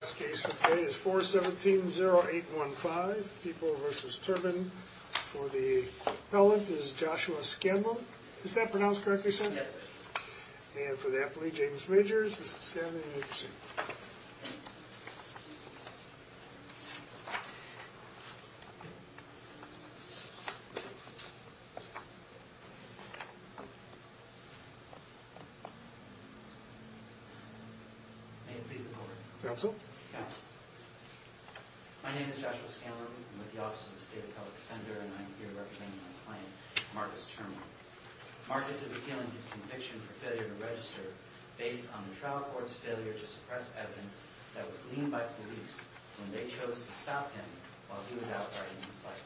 This case for today is 4-17-0-8-1-5. People v. Turman. For the appellant is Joshua Scanlon. Is that pronounced correctly, sir? Yes, sir. And for the appellee, James Majors. Mr. Scanlon, you may proceed. May it please the Court. Counsel? Counsel. My name is Joshua Scanlon. I'm with the Office of the State Appellate Defender, and I'm here representing my client, Marcus Turman. Marcus is appealing his conviction for failure to register based on the trial court's failure to suppress evidence that was gleaned by police when they chose to stop him while he was out riding his bike.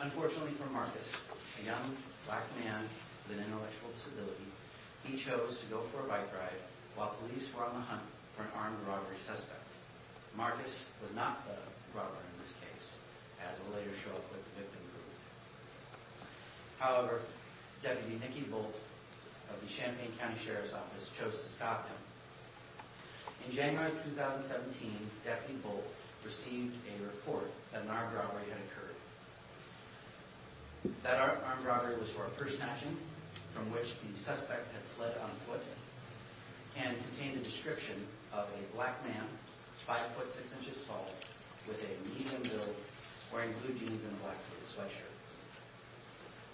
Unfortunately for Marcus, a young black man with an intellectual disability, he chose to go for a bike ride while police were on the hunt for an armed robbery suspect. Marcus was not the robber in this case, as will later show up with the victim group. However, Deputy Nicky Bolt of the Champaign County Sheriff's Office chose to stop him. In January 2017, Deputy Bolt received a report that an armed robbery had occurred. That armed robbery was for a purse snatching, from which the suspect had fled on foot, and contained a description of a black man, 5'6'' tall, with a medium build, wearing blue jeans and a black t-shirt.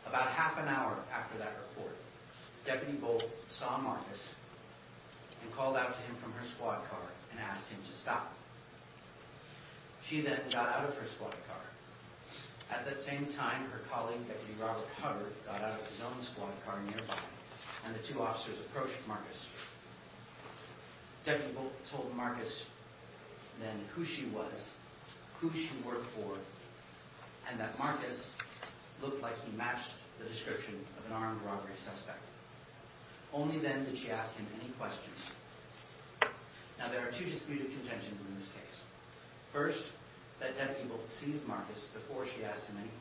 About half an hour after that report, Deputy Bolt saw Marcus and called out to him from her squad car and asked him to stop. She then got out of her squad car. At that same time, her colleague, Deputy Robert Hubbard, got out of his own squad car nearby, and the two officers approached Marcus. Deputy Bolt told Marcus then who she was, who she worked for, and that Marcus looked like he matched the description of an armed robbery suspect. Only then did she ask him any questions. Now, there are two disputed contentions in this case. First, that Deputy Bolt seized Marcus before she asked him any questions.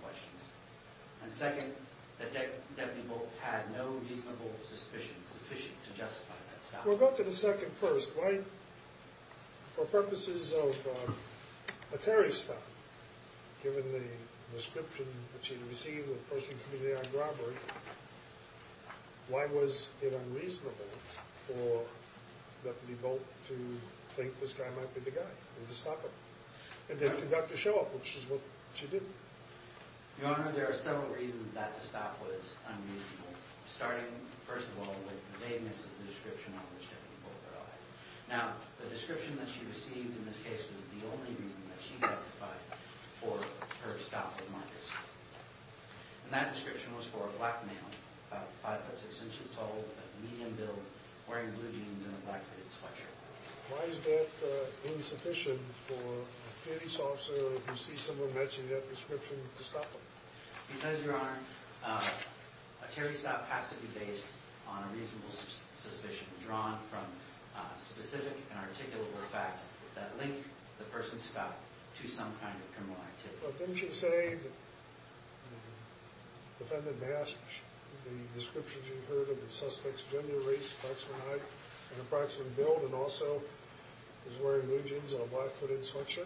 And second, that Deputy Bolt had no reasonable suspicion sufficient to justify that stop. We'll go to the second first. Why, for purposes of a terrorist stop, given the description that she had received of a person committing an armed robbery, why was it unreasonable for Deputy Bolt to think this guy might be the guy and to stop him? And then to conduct a show-off, which is what she did. Your Honor, there are several reasons that the stop was unreasonable. Starting, first of all, with the vagueness of the description on which Deputy Bolt arrived. Now, the description that she received in this case was the only reason that she justified for her stop with Marcus. And that description was for a black male, 5'6", medium build, wearing blue jeans and a black fitted sweatshirt. Why is that insufficient for a police officer, if you see someone matching that description, to stop them? Because, Your Honor, a terrorist stop has to be based on a reasonable suspicion drawn from specific and articulable facts that link the person's stop to some kind of criminal activity. Well, didn't you say that the defendant matched the descriptions you heard of the suspect's gender, race, sex, and height, and approximate build, and also was wearing blue jeans and a black fitted sweatshirt?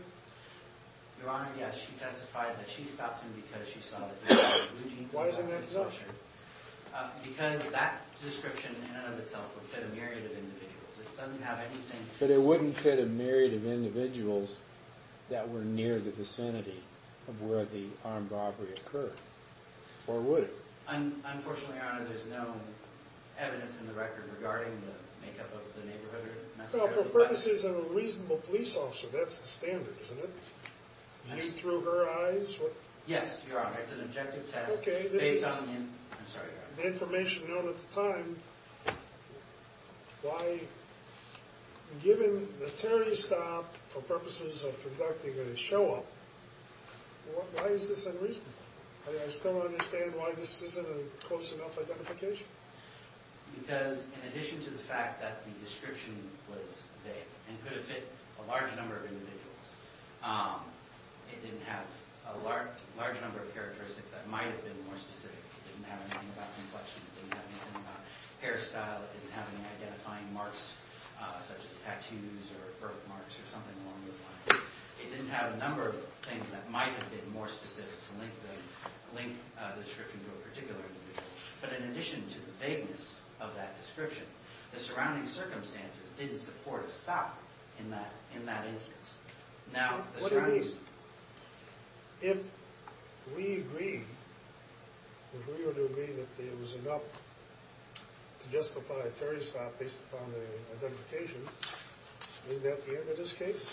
Your Honor, yes. She testified that she stopped him because she saw that he was wearing a blue jeans and a black fitted sweatshirt. Why is that so? Because that description in and of itself would fit a myriad of individuals. It doesn't have anything... But it wouldn't fit a myriad of individuals that were near the vicinity of where the armed robbery occurred. Or would it? Unfortunately, Your Honor, there's no evidence in the record regarding the makeup of the neighborhood, necessarily. Well, for purposes of a reasonable police officer, that's the standard, isn't it? You threw her eyes? Yes, Your Honor. It's an objective test. Based on the information known at the time, given that Terry stopped for purposes of conducting a show-off, why is this unreasonable? I still don't understand why this isn't a close enough identification. Because in addition to the fact that the description was vague and could have fit a large number of individuals, it didn't have a large number of characteristics that might have been more specific. It didn't have anything about complexion. It didn't have anything about hairstyle. It didn't have any identifying marks such as tattoos or birthmarks or something along those lines. It didn't have a number of things that might have been more specific to link the description to a particular individual. But in addition to the vagueness of that description, the surrounding circumstances didn't support a stop in that instance. What do you mean? If we agree, if we were to agree that it was enough to justify Terry's stop based upon the identification, is that the end of this case?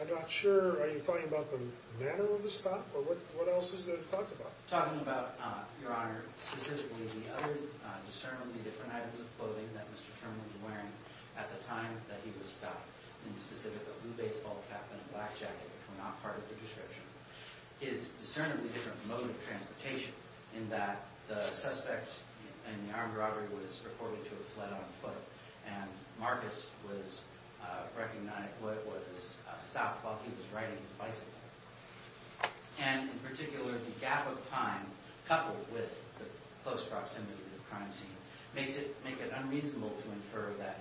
I'm not sure. Are you talking about the manner of the stop, or what else is there to talk about? I'm talking about, Your Honor, specifically the other discernibly different items of clothing that Mr. Turner was wearing at the time that he was stopped. In specific, a blue baseball cap and a black jacket were not part of the description. His discernibly different mode of transportation in that the suspect in the armed robbery was reported to have fled on foot, and Marcus was recognized, was stopped while he was riding his bicycle. And in particular, the gap of time coupled with the close proximity to the crime scene makes it unreasonable to incur that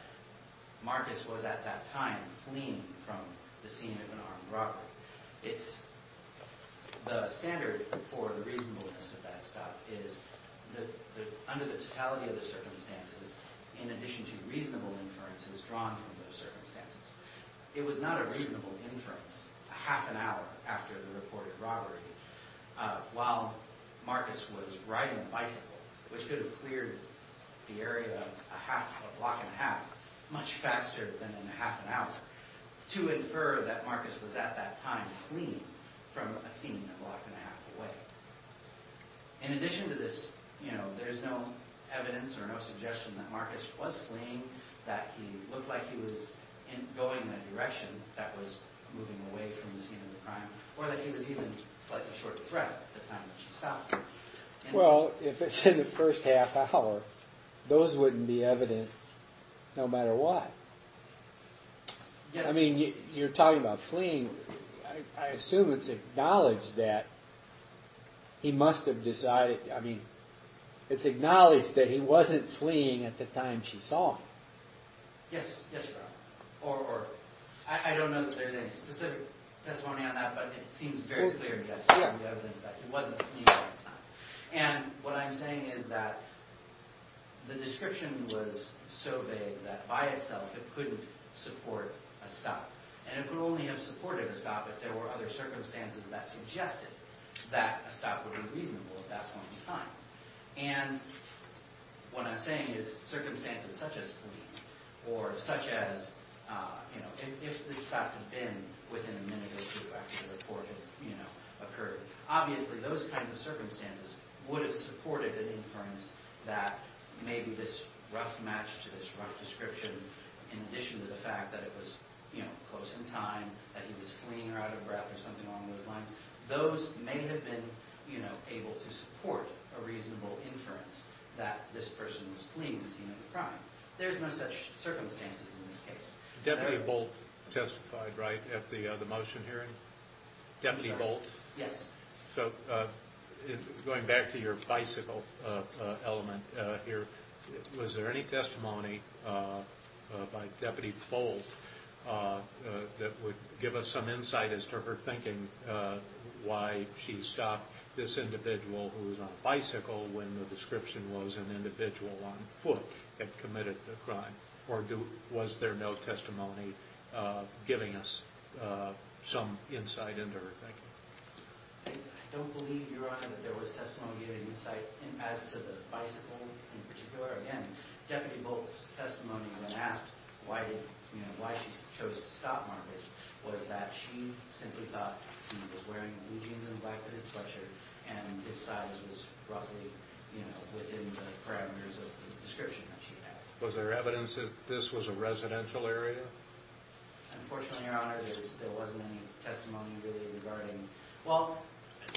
Marcus was at that time fleeing from the scene of an armed robbery. The standard for the reasonableness of that stop is that under the totality of the circumstances, in addition to reasonable inference, it was drawn from those circumstances. It was not a reasonable inference. A half an hour after the reported robbery, while Marcus was riding a bicycle, which could have cleared the area a block and a half much faster than in a half an hour, to infer that Marcus was at that time fleeing from a scene a block and a half away. In addition to this, you know, there's no evidence or no suggestion that Marcus was fleeing, that he looked like he was going in a direction that was moving away from the scene of the crime, or that he was even a slightly short threat at the time that she stopped him. Well, if it's in the first half hour, those wouldn't be evident no matter what. I mean, you're talking about fleeing. I assume it's acknowledged that he must have decided, I mean, it's acknowledged that he wasn't fleeing at the time she saw him. Yes, yes, or I don't know that there's any specific testimony on that, but it seems very clear in the evidence that he wasn't fleeing at the time. And what I'm saying is that the description was so vague that by itself it couldn't support a stop. And it could only have supported a stop if there were other circumstances that suggested that a stop would be reasonable at that point in time. And what I'm saying is circumstances such as fleeing or such as, you know, if the stop had been within a minute or two after the report had, you know, occurred, obviously those kinds of circumstances would have supported an inference that maybe this rough match to this rough description in addition to the fact that it was, you know, close in time, that he was fleeing or out of breath or something along those lines, those may have been, you know, able to support a reasonable inference that this person was fleeing the scene of the crime. There's no such circumstances in this case. Deputy Bolt testified, right, at the motion hearing? Deputy Bolt? Yes. So going back to your bicycle element here, was there any testimony by Deputy Bolt that would give us some insight as to her thinking why she stopped this individual who was on a bicycle when the description was an individual on foot had committed the crime? Or was there no testimony giving us some insight into her thinking? I don't believe, Your Honor, that there was testimony giving insight as to the bicycle in particular. Again, Deputy Bolt's testimony when asked why she chose to stop Marcus was that she simply thought he was wearing blue jeans and a black hooded sweatshirt and his size was roughly, you know, within the parameters of the description that she had. Was there evidence that this was a residential area? Unfortunately, Your Honor, there wasn't any testimony really regarding well,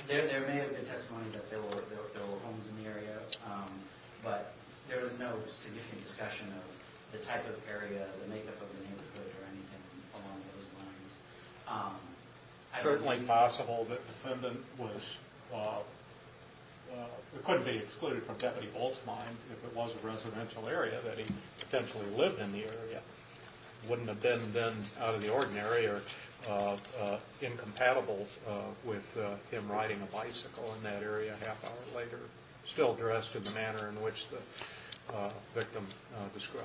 there may have been testimony that there were homes in the area, but there was no significant discussion of the type of area, the makeup of the neighborhood, or anything along those lines. It's certainly possible that the defendant was it couldn't be excluded from Deputy Bolt's mind if it was a residential area that he potentially lived in the area. It wouldn't have been, then, out of the ordinary or incompatible with him riding a bicycle in that area a half hour later, still addressed in the manner in which the victim described.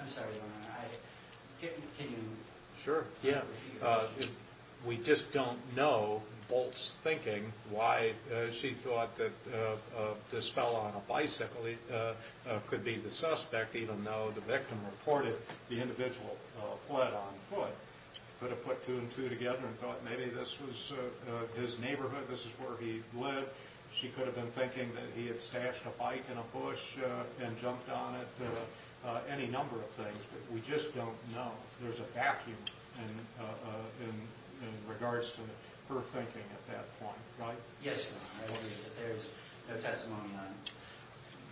I'm sorry, Your Honor, I Can you Sure, yeah. We just don't know, Bolt's thinking, why she thought that this fellow on a bicycle could be the suspect, even though the victim reported the individual fled on foot. Could have put two and two together and thought maybe this was his neighborhood, this is where he lived. She could have been thinking that he had stashed a bike in a bush and jumped on it, any number of things, but we just don't know. There's a vacuum in regards to her thinking at that point, right? Yes, Your Honor, I believe that there's no testimony on it.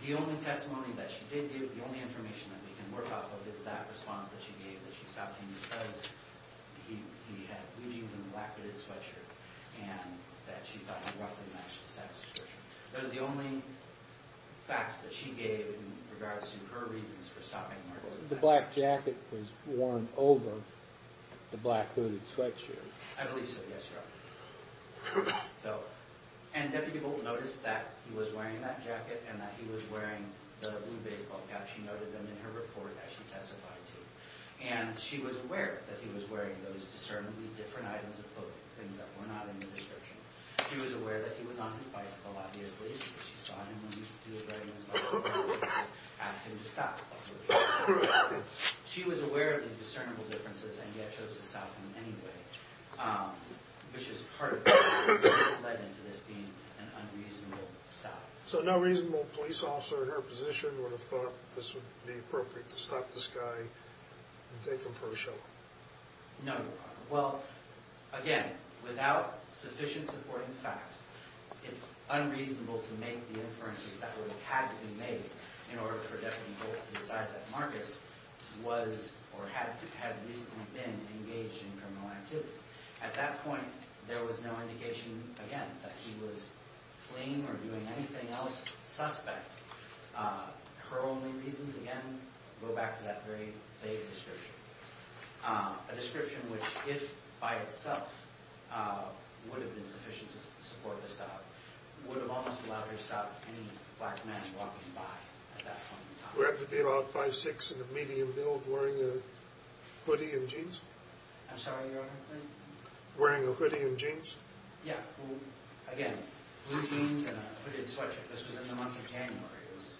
The only testimony that she did give, the only information that we can work off of, is that response that she gave, that she stopped him because he had blue jeans and a black knitted sweatshirt and that she thought he roughly matched the satisfaction. Those are the only facts that she gave in regards to her reasons for stopping him. The black jacket was worn over the black hooded sweatshirt. I believe so, yes, Your Honor. And Deputy Bolt noticed that he was wearing that jacket and that he was wearing the blue baseball cap, she noted them in her report that she testified to. And she was aware that he was wearing those discernibly different items of clothing, things that were not in the description. She was aware that he was on his bicycle, obviously, because she saw him when he was riding his bicycle and asked him to stop. She was aware of these discernible differences and yet chose to stop him anyway, which is part of what led into this being an unreasonable stop. So no reasonable police officer in her position would have thought this would be appropriate to stop this guy and take him for a show? No, Your Honor. Well, again, without sufficient supporting facts, it's unreasonable to make the inferences that would have had to be made in order for Deputy Bolt to decide that Marcus was or had recently been engaged in criminal activity. At that point, there was no indication, again, that he was fleeing or doing anything else suspect. Her only reasons, again, go back to that very vague description, a description which, if by itself, would have been sufficient to support this stop, would have almost allowed her to stop any black man walking by at that point in time. Would it have to be about 5'6", in a medium build, wearing a hoodie and jeans? I'm sorry, Your Honor? Wearing a hoodie and jeans? Yeah. Again, blue jeans and a hooded sweatshirt. This was in the month of January. It was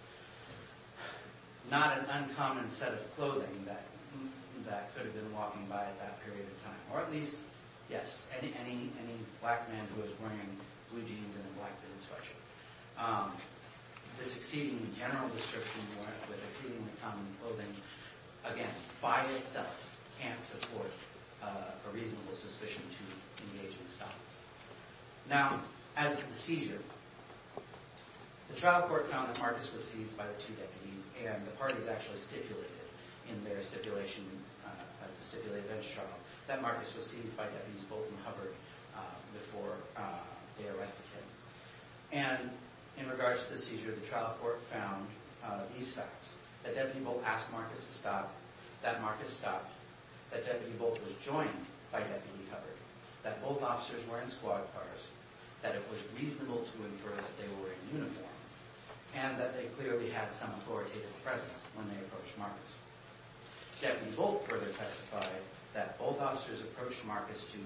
not an uncommon set of clothing that could have been walking by at that period of time, or at least, yes, any black man who was wearing blue jeans and a black hooded sweatshirt. This exceedingly general description with exceedingly common clothing, again, by itself can't support a reasonable suspicion to engage in assault. Now, as to the seizure, the trial court found that Marcus was seized by the two deputies, and the parties actually stipulated in their stipulation of the stipulated bench trial that Marcus was seized by Deputies Bolt and Hubbard before they arrested him. And in regards to the seizure, the trial court found these facts, that Deputy Bolt asked Marcus to stop, that Marcus stopped, that Deputy Bolt was joined by Deputy Hubbard, that both officers were in squad cars, that it was reasonable to infer that they were in uniform, and that they clearly had some authoritative presence when they approached Marcus. Deputy Bolt further testified that both officers approached Marcus to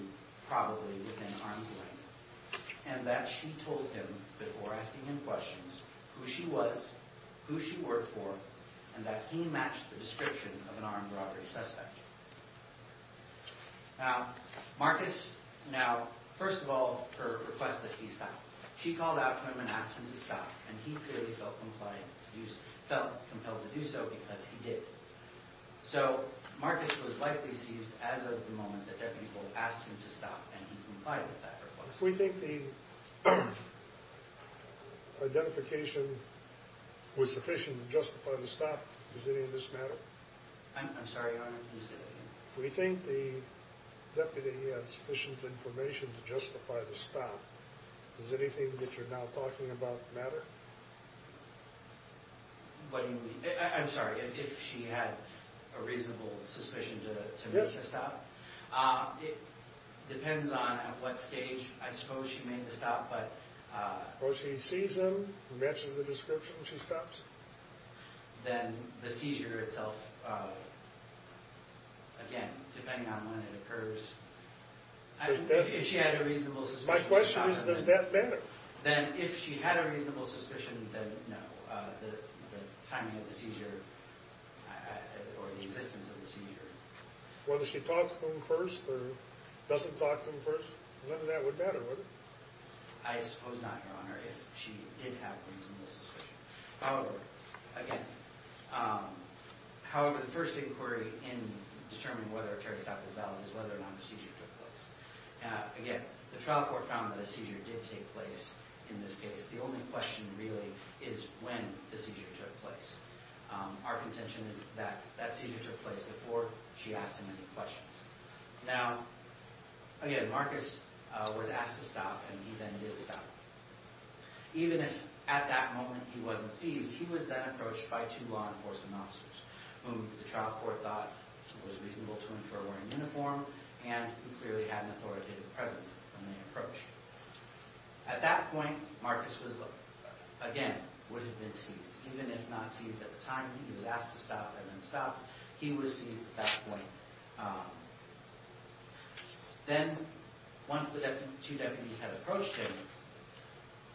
probably within arm's length, and that she told him, before asking him questions, who she was, who she worked for, and that he matched the description of an armed robbery suspect. Now, Marcus, now, first of all, her request that he stop. She called out to him and asked him to stop, and he clearly felt compelled to do so because he did. So, Marcus was likely seized as of the moment that Deputy Bolt asked him to stop, and he complied with that request. If we think the identification was sufficient to justify the stop, does any of this matter? I'm sorry, Your Honor, can you say that again? If we think the deputy had sufficient information to justify the stop, does anything that you're now talking about matter? What do you mean? I'm sorry, if she had a reasonable suspicion to make this up? It depends on at what stage, I suppose, she made the stop, but... Or she sees him, matches the description, and she stops him. Then the seizure itself, again, depending on when it occurs. If she had a reasonable suspicion... My question is, does that matter? Then if she had a reasonable suspicion, then no. The timing of the seizure or the existence of the seizure. Whether she talks to him first or doesn't talk to him first, none of that would matter, would it? I suppose not, Your Honor, if she did have a reasonable suspicion. However, again, however, the first inquiry in determining whether Terry's stop is valid is whether or not the seizure took place. Again, the trial court found that a seizure did take place in this case. The only question, really, is when the seizure took place. Our contention is that that seizure took place before she asked him any questions. Now, again, Marcus was asked to stop, and he then did stop. Even if at that moment he wasn't seized, he was then approached by two law enforcement officers, whom the trial court thought was reasonable to infer were in uniform, and who clearly had an authoritative presence in the approach. At that point, Marcus was, again, would have been seized. Even if not seized at the time, he was asked to stop and then stopped. He was seized at that point. Then, once the two deputies had approached him,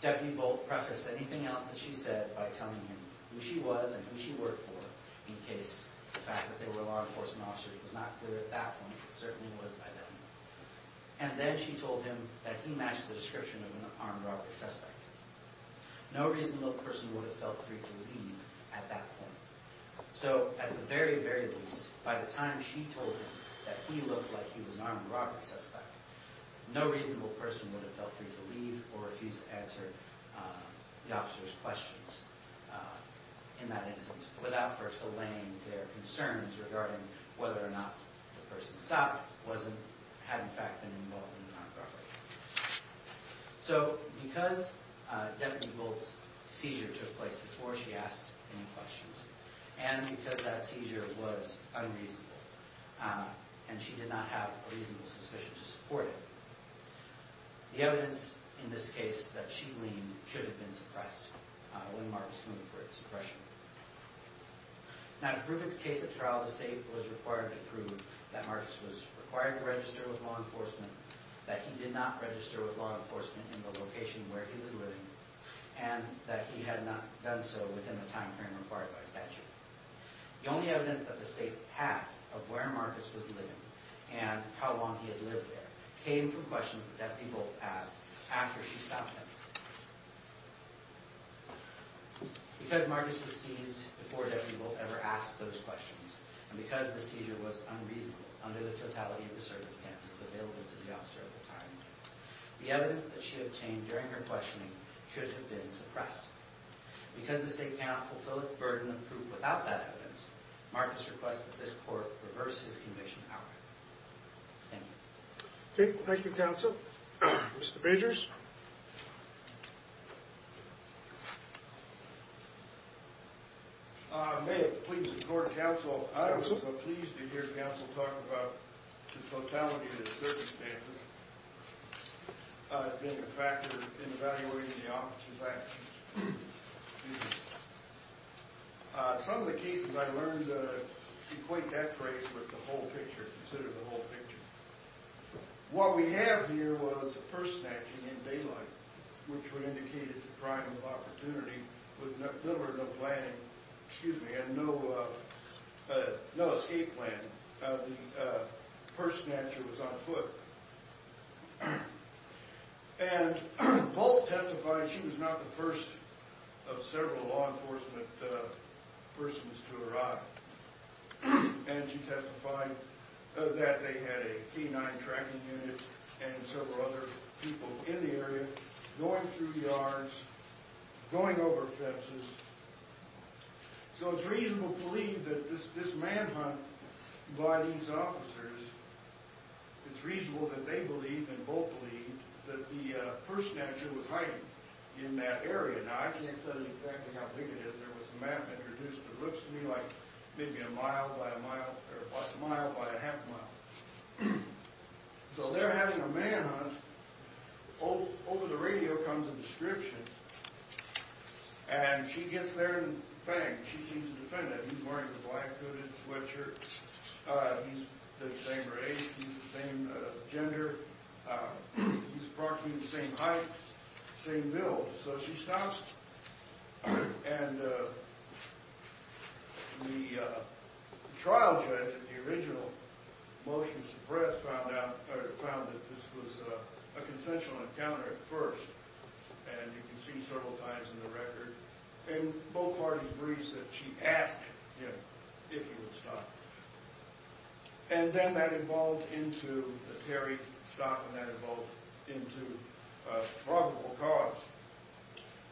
Deputy Bolt prefaced anything else that she said by telling him who she was and who she worked for, in case the fact that they were law enforcement officers was not clear at that point. It certainly was by then. And then she told him that he matched the description of an armed robbery suspect. No reasonable person would have felt free to leave at that point. So, at the very, very least, by the time she told him that he looked like he was an armed robbery suspect, no reasonable person would have felt free to leave or refused to answer the officer's questions in that instance, without first allaying their concerns regarding whether or not the person stopped had, in fact, been involved in an armed robbery. So, because Deputy Bolt's seizure took place before she asked any questions, and because that seizure was unreasonable, and she did not have a reasonable suspicion to support it, the evidence in this case that she gleaned should have been suppressed when Marcus went for his suppression. Now, in Griffith's case at trial, the state was required to prove that Marcus was required to register with law enforcement, that he did not register with law enforcement in the location where he was living, and that he had not done so within the timeframe required by statute. The only evidence that the state had of where Marcus was living and how long he had lived there came from questions that Deputy Bolt asked after she stopped him. Because Marcus was seized before Deputy Bolt ever asked those questions, and because the seizure was unreasonable under the totality of the circumstances available to the officer at the time, the evidence that she obtained during her questioning should have been suppressed. Because the state cannot fulfill its burden of proof without that evidence, Marcus requests that this court reverse his conviction power. Thank you. Okay. Thank you, counsel. Mr. Bagers? May it please the court, counsel, I was so pleased to hear counsel talk about the totality of the circumstances being a factor in evaluating the officer's actions. Some of the cases, I learned to equate that phrase with the whole picture, consider the whole picture. What we have here was the purse snatching in daylight, which would indicate it's a primal opportunity with little or no planning, excuse me, no escape planning. The purse snatcher was on foot. And Bolt testified she was not the first of several law enforcement persons to arrive. And she testified that they had a canine tracking unit and several other people in the area, going through yards, going over fences. So it's reasonable to believe that this manhunt by these officers, it's reasonable that they believe, and Bolt believed, that the purse snatcher was hiding in that area. Now, I can't tell you exactly how big it is. There was a map introduced that looks to me like maybe a mile by a mile or a mile by a half mile. So they're having a manhunt. Over the radio comes a description. And she gets there and, bang, she sees a defendant. He's wearing a black hooded sweatshirt. He's the same race. He's the same gender. He's parking at the same height, same build. So she stops. And the trial judge at the original motion to suppress found that this was a consensual encounter at first. And you can see several times in the record. And Bolt hardly agrees that she asked him if he would stop. And then that evolved into the Terry stop, and that evolved into probable cause.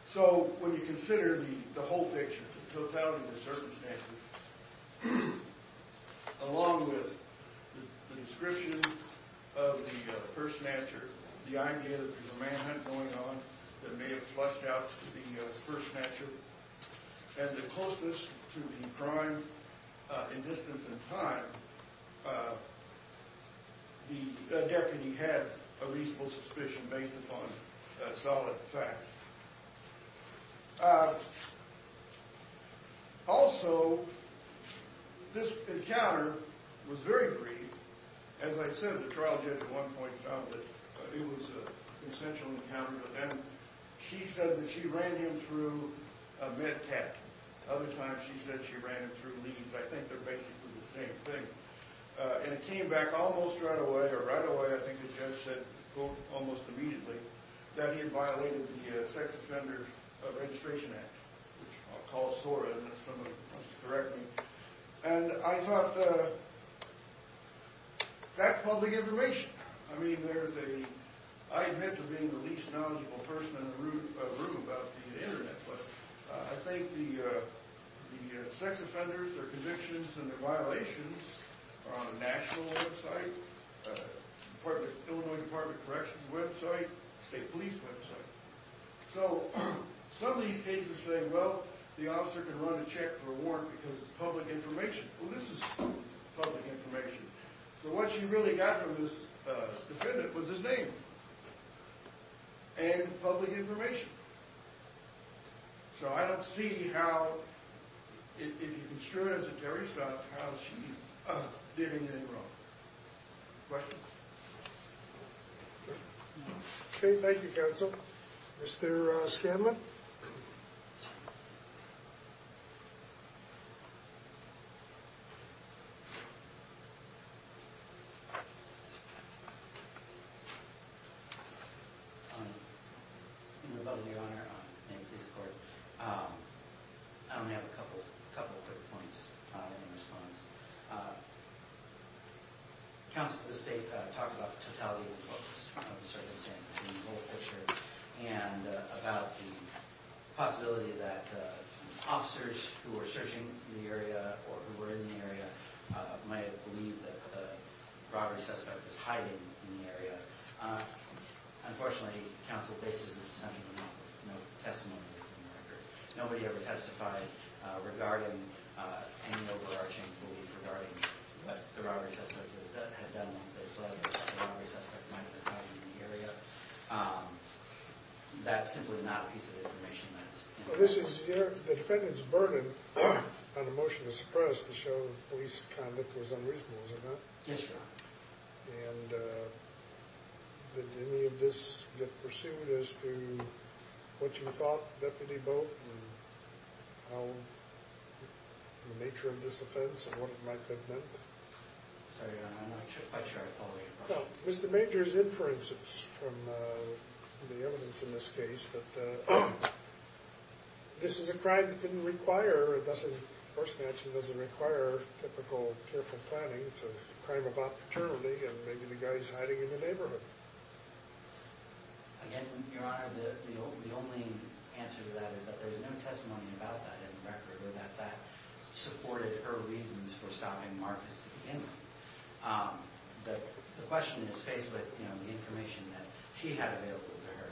So when you consider the whole picture, the totality of the circumstances, along with the description of the purse snatcher, the idea that there's a manhunt going on that may have flushed out the purse snatcher, and the closeness to the crime in distance and time, the deputy had a reasonable suspicion based upon solid facts. Also, this encounter was very brief. As I said, the trial judge at one point found that it was a consensual encounter. And she said that she ran him through a medcat. Other times she said she ran him through leads. I think they're basically the same thing. And it came back almost right away, or right away, I think the judge said, quote, almost immediately, that he had violated the Sex Offenders Registration Act, which I'll call SORA, unless somebody wants to correct me. And I thought, that's public information. I mean, I admit to being the least knowledgeable person in the room about the Internet, but I think the sex offenders, their convictions, and their violations are on a national website, an Illinois Department of Corrections website, a state police website. So some of these cases say, well, the officer can run a check for a warrant because it's public information. Well, this is public information. So what she really got from this defendant was his name and public information. So I don't see how, if you construe it as a terrorist act, how she's doing anything wrong. Questions? Okay, thank you, counsel. Mr. Scanlon? In the love of your honor, and please support, I only have a couple quick points in response. Counsel, the state talked about the totality of the circumstances in the whole picture and about the possibility that officers who were searching the area or who were in the area might believe that the robbery suspect was hiding in the area. Unfortunately, counsel, this is essentially no testimony that's in the record. Nobody ever testified regarding any overarching belief regarding what the robbery suspect had done once they fled the robbery suspect might have been hiding in the area. That's simply not a piece of information that's in the record. The defendant's burden on a motion to suppress the show of police conduct was unreasonable, is it not? Yes, your honor. And did any of this get pursued as to what you thought, Deputy Boat, and the nature of this offense and what it might have meant? Sorry, your honor, I'm not sure I follow your question. Well, Mr. Major's inferences from the evidence in this case that this is a crime that didn't require, it doesn't, of course, it actually doesn't require typical careful planning. It's a crime about paternity and maybe the guy's hiding in the neighborhood. Again, your honor, the only answer to that is that there's no testimony about that in the record or that that supported her reasons for stopping Marcus to begin with. The question is faced with, you know, the information that she had available to her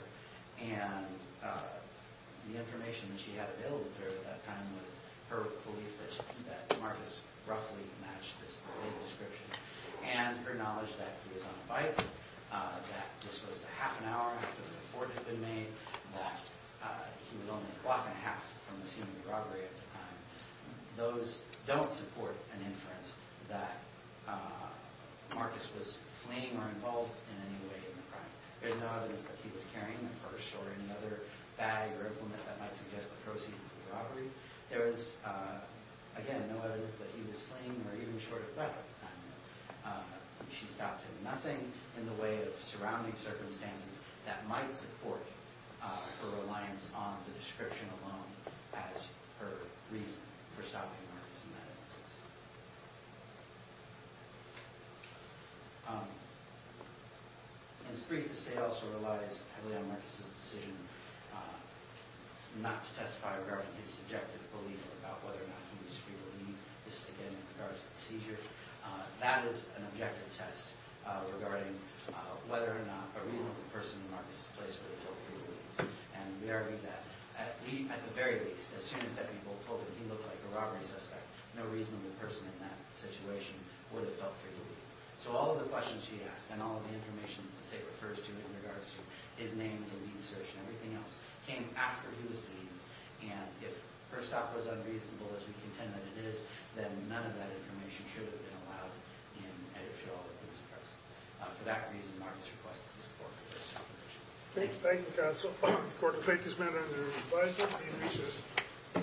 and the information that she had available to her at that time was her belief that Marcus roughly matched this description and her knowledge that he was on a bike, that this was a half an hour after the report had been made, that he was only a clock and a half from the scene of the robbery at the time. Those don't support an inference that Marcus was fleeing or involved in any way in the crime. There's no evidence that he was carrying a purse or any other bag or implement that might suggest the proceeds of the robbery. There is, again, no evidence that he was fleeing or even short of breath at the time. She stopped him. Nothing in the way of surrounding circumstances that might support her reliance on the description alone as her reason for stopping Marcus in that instance. In his brief, the state also relies heavily on Marcus's decision not to testify regarding his subjective belief about whether or not he was free to leave. This is, again, in regards to the seizure. That is an objective test regarding whether or not a reasonable person in Marcus's place would have felt free to leave. And we argue that at the very least, as soon as that people told him he looked like a robbery suspect, no reasonable person in that situation would have felt free to leave. So all of the questions she asked and all of the information that the state refers to in regards to his name, the lead search, and everything else came after he was seized. And if her stop was unreasonable, as we contend that it is, then none of that information should have been allowed in any of the principles. For that reason, Marcus requested the support of the state. Thank you, counsel. The court will take this matter under advisory and recess.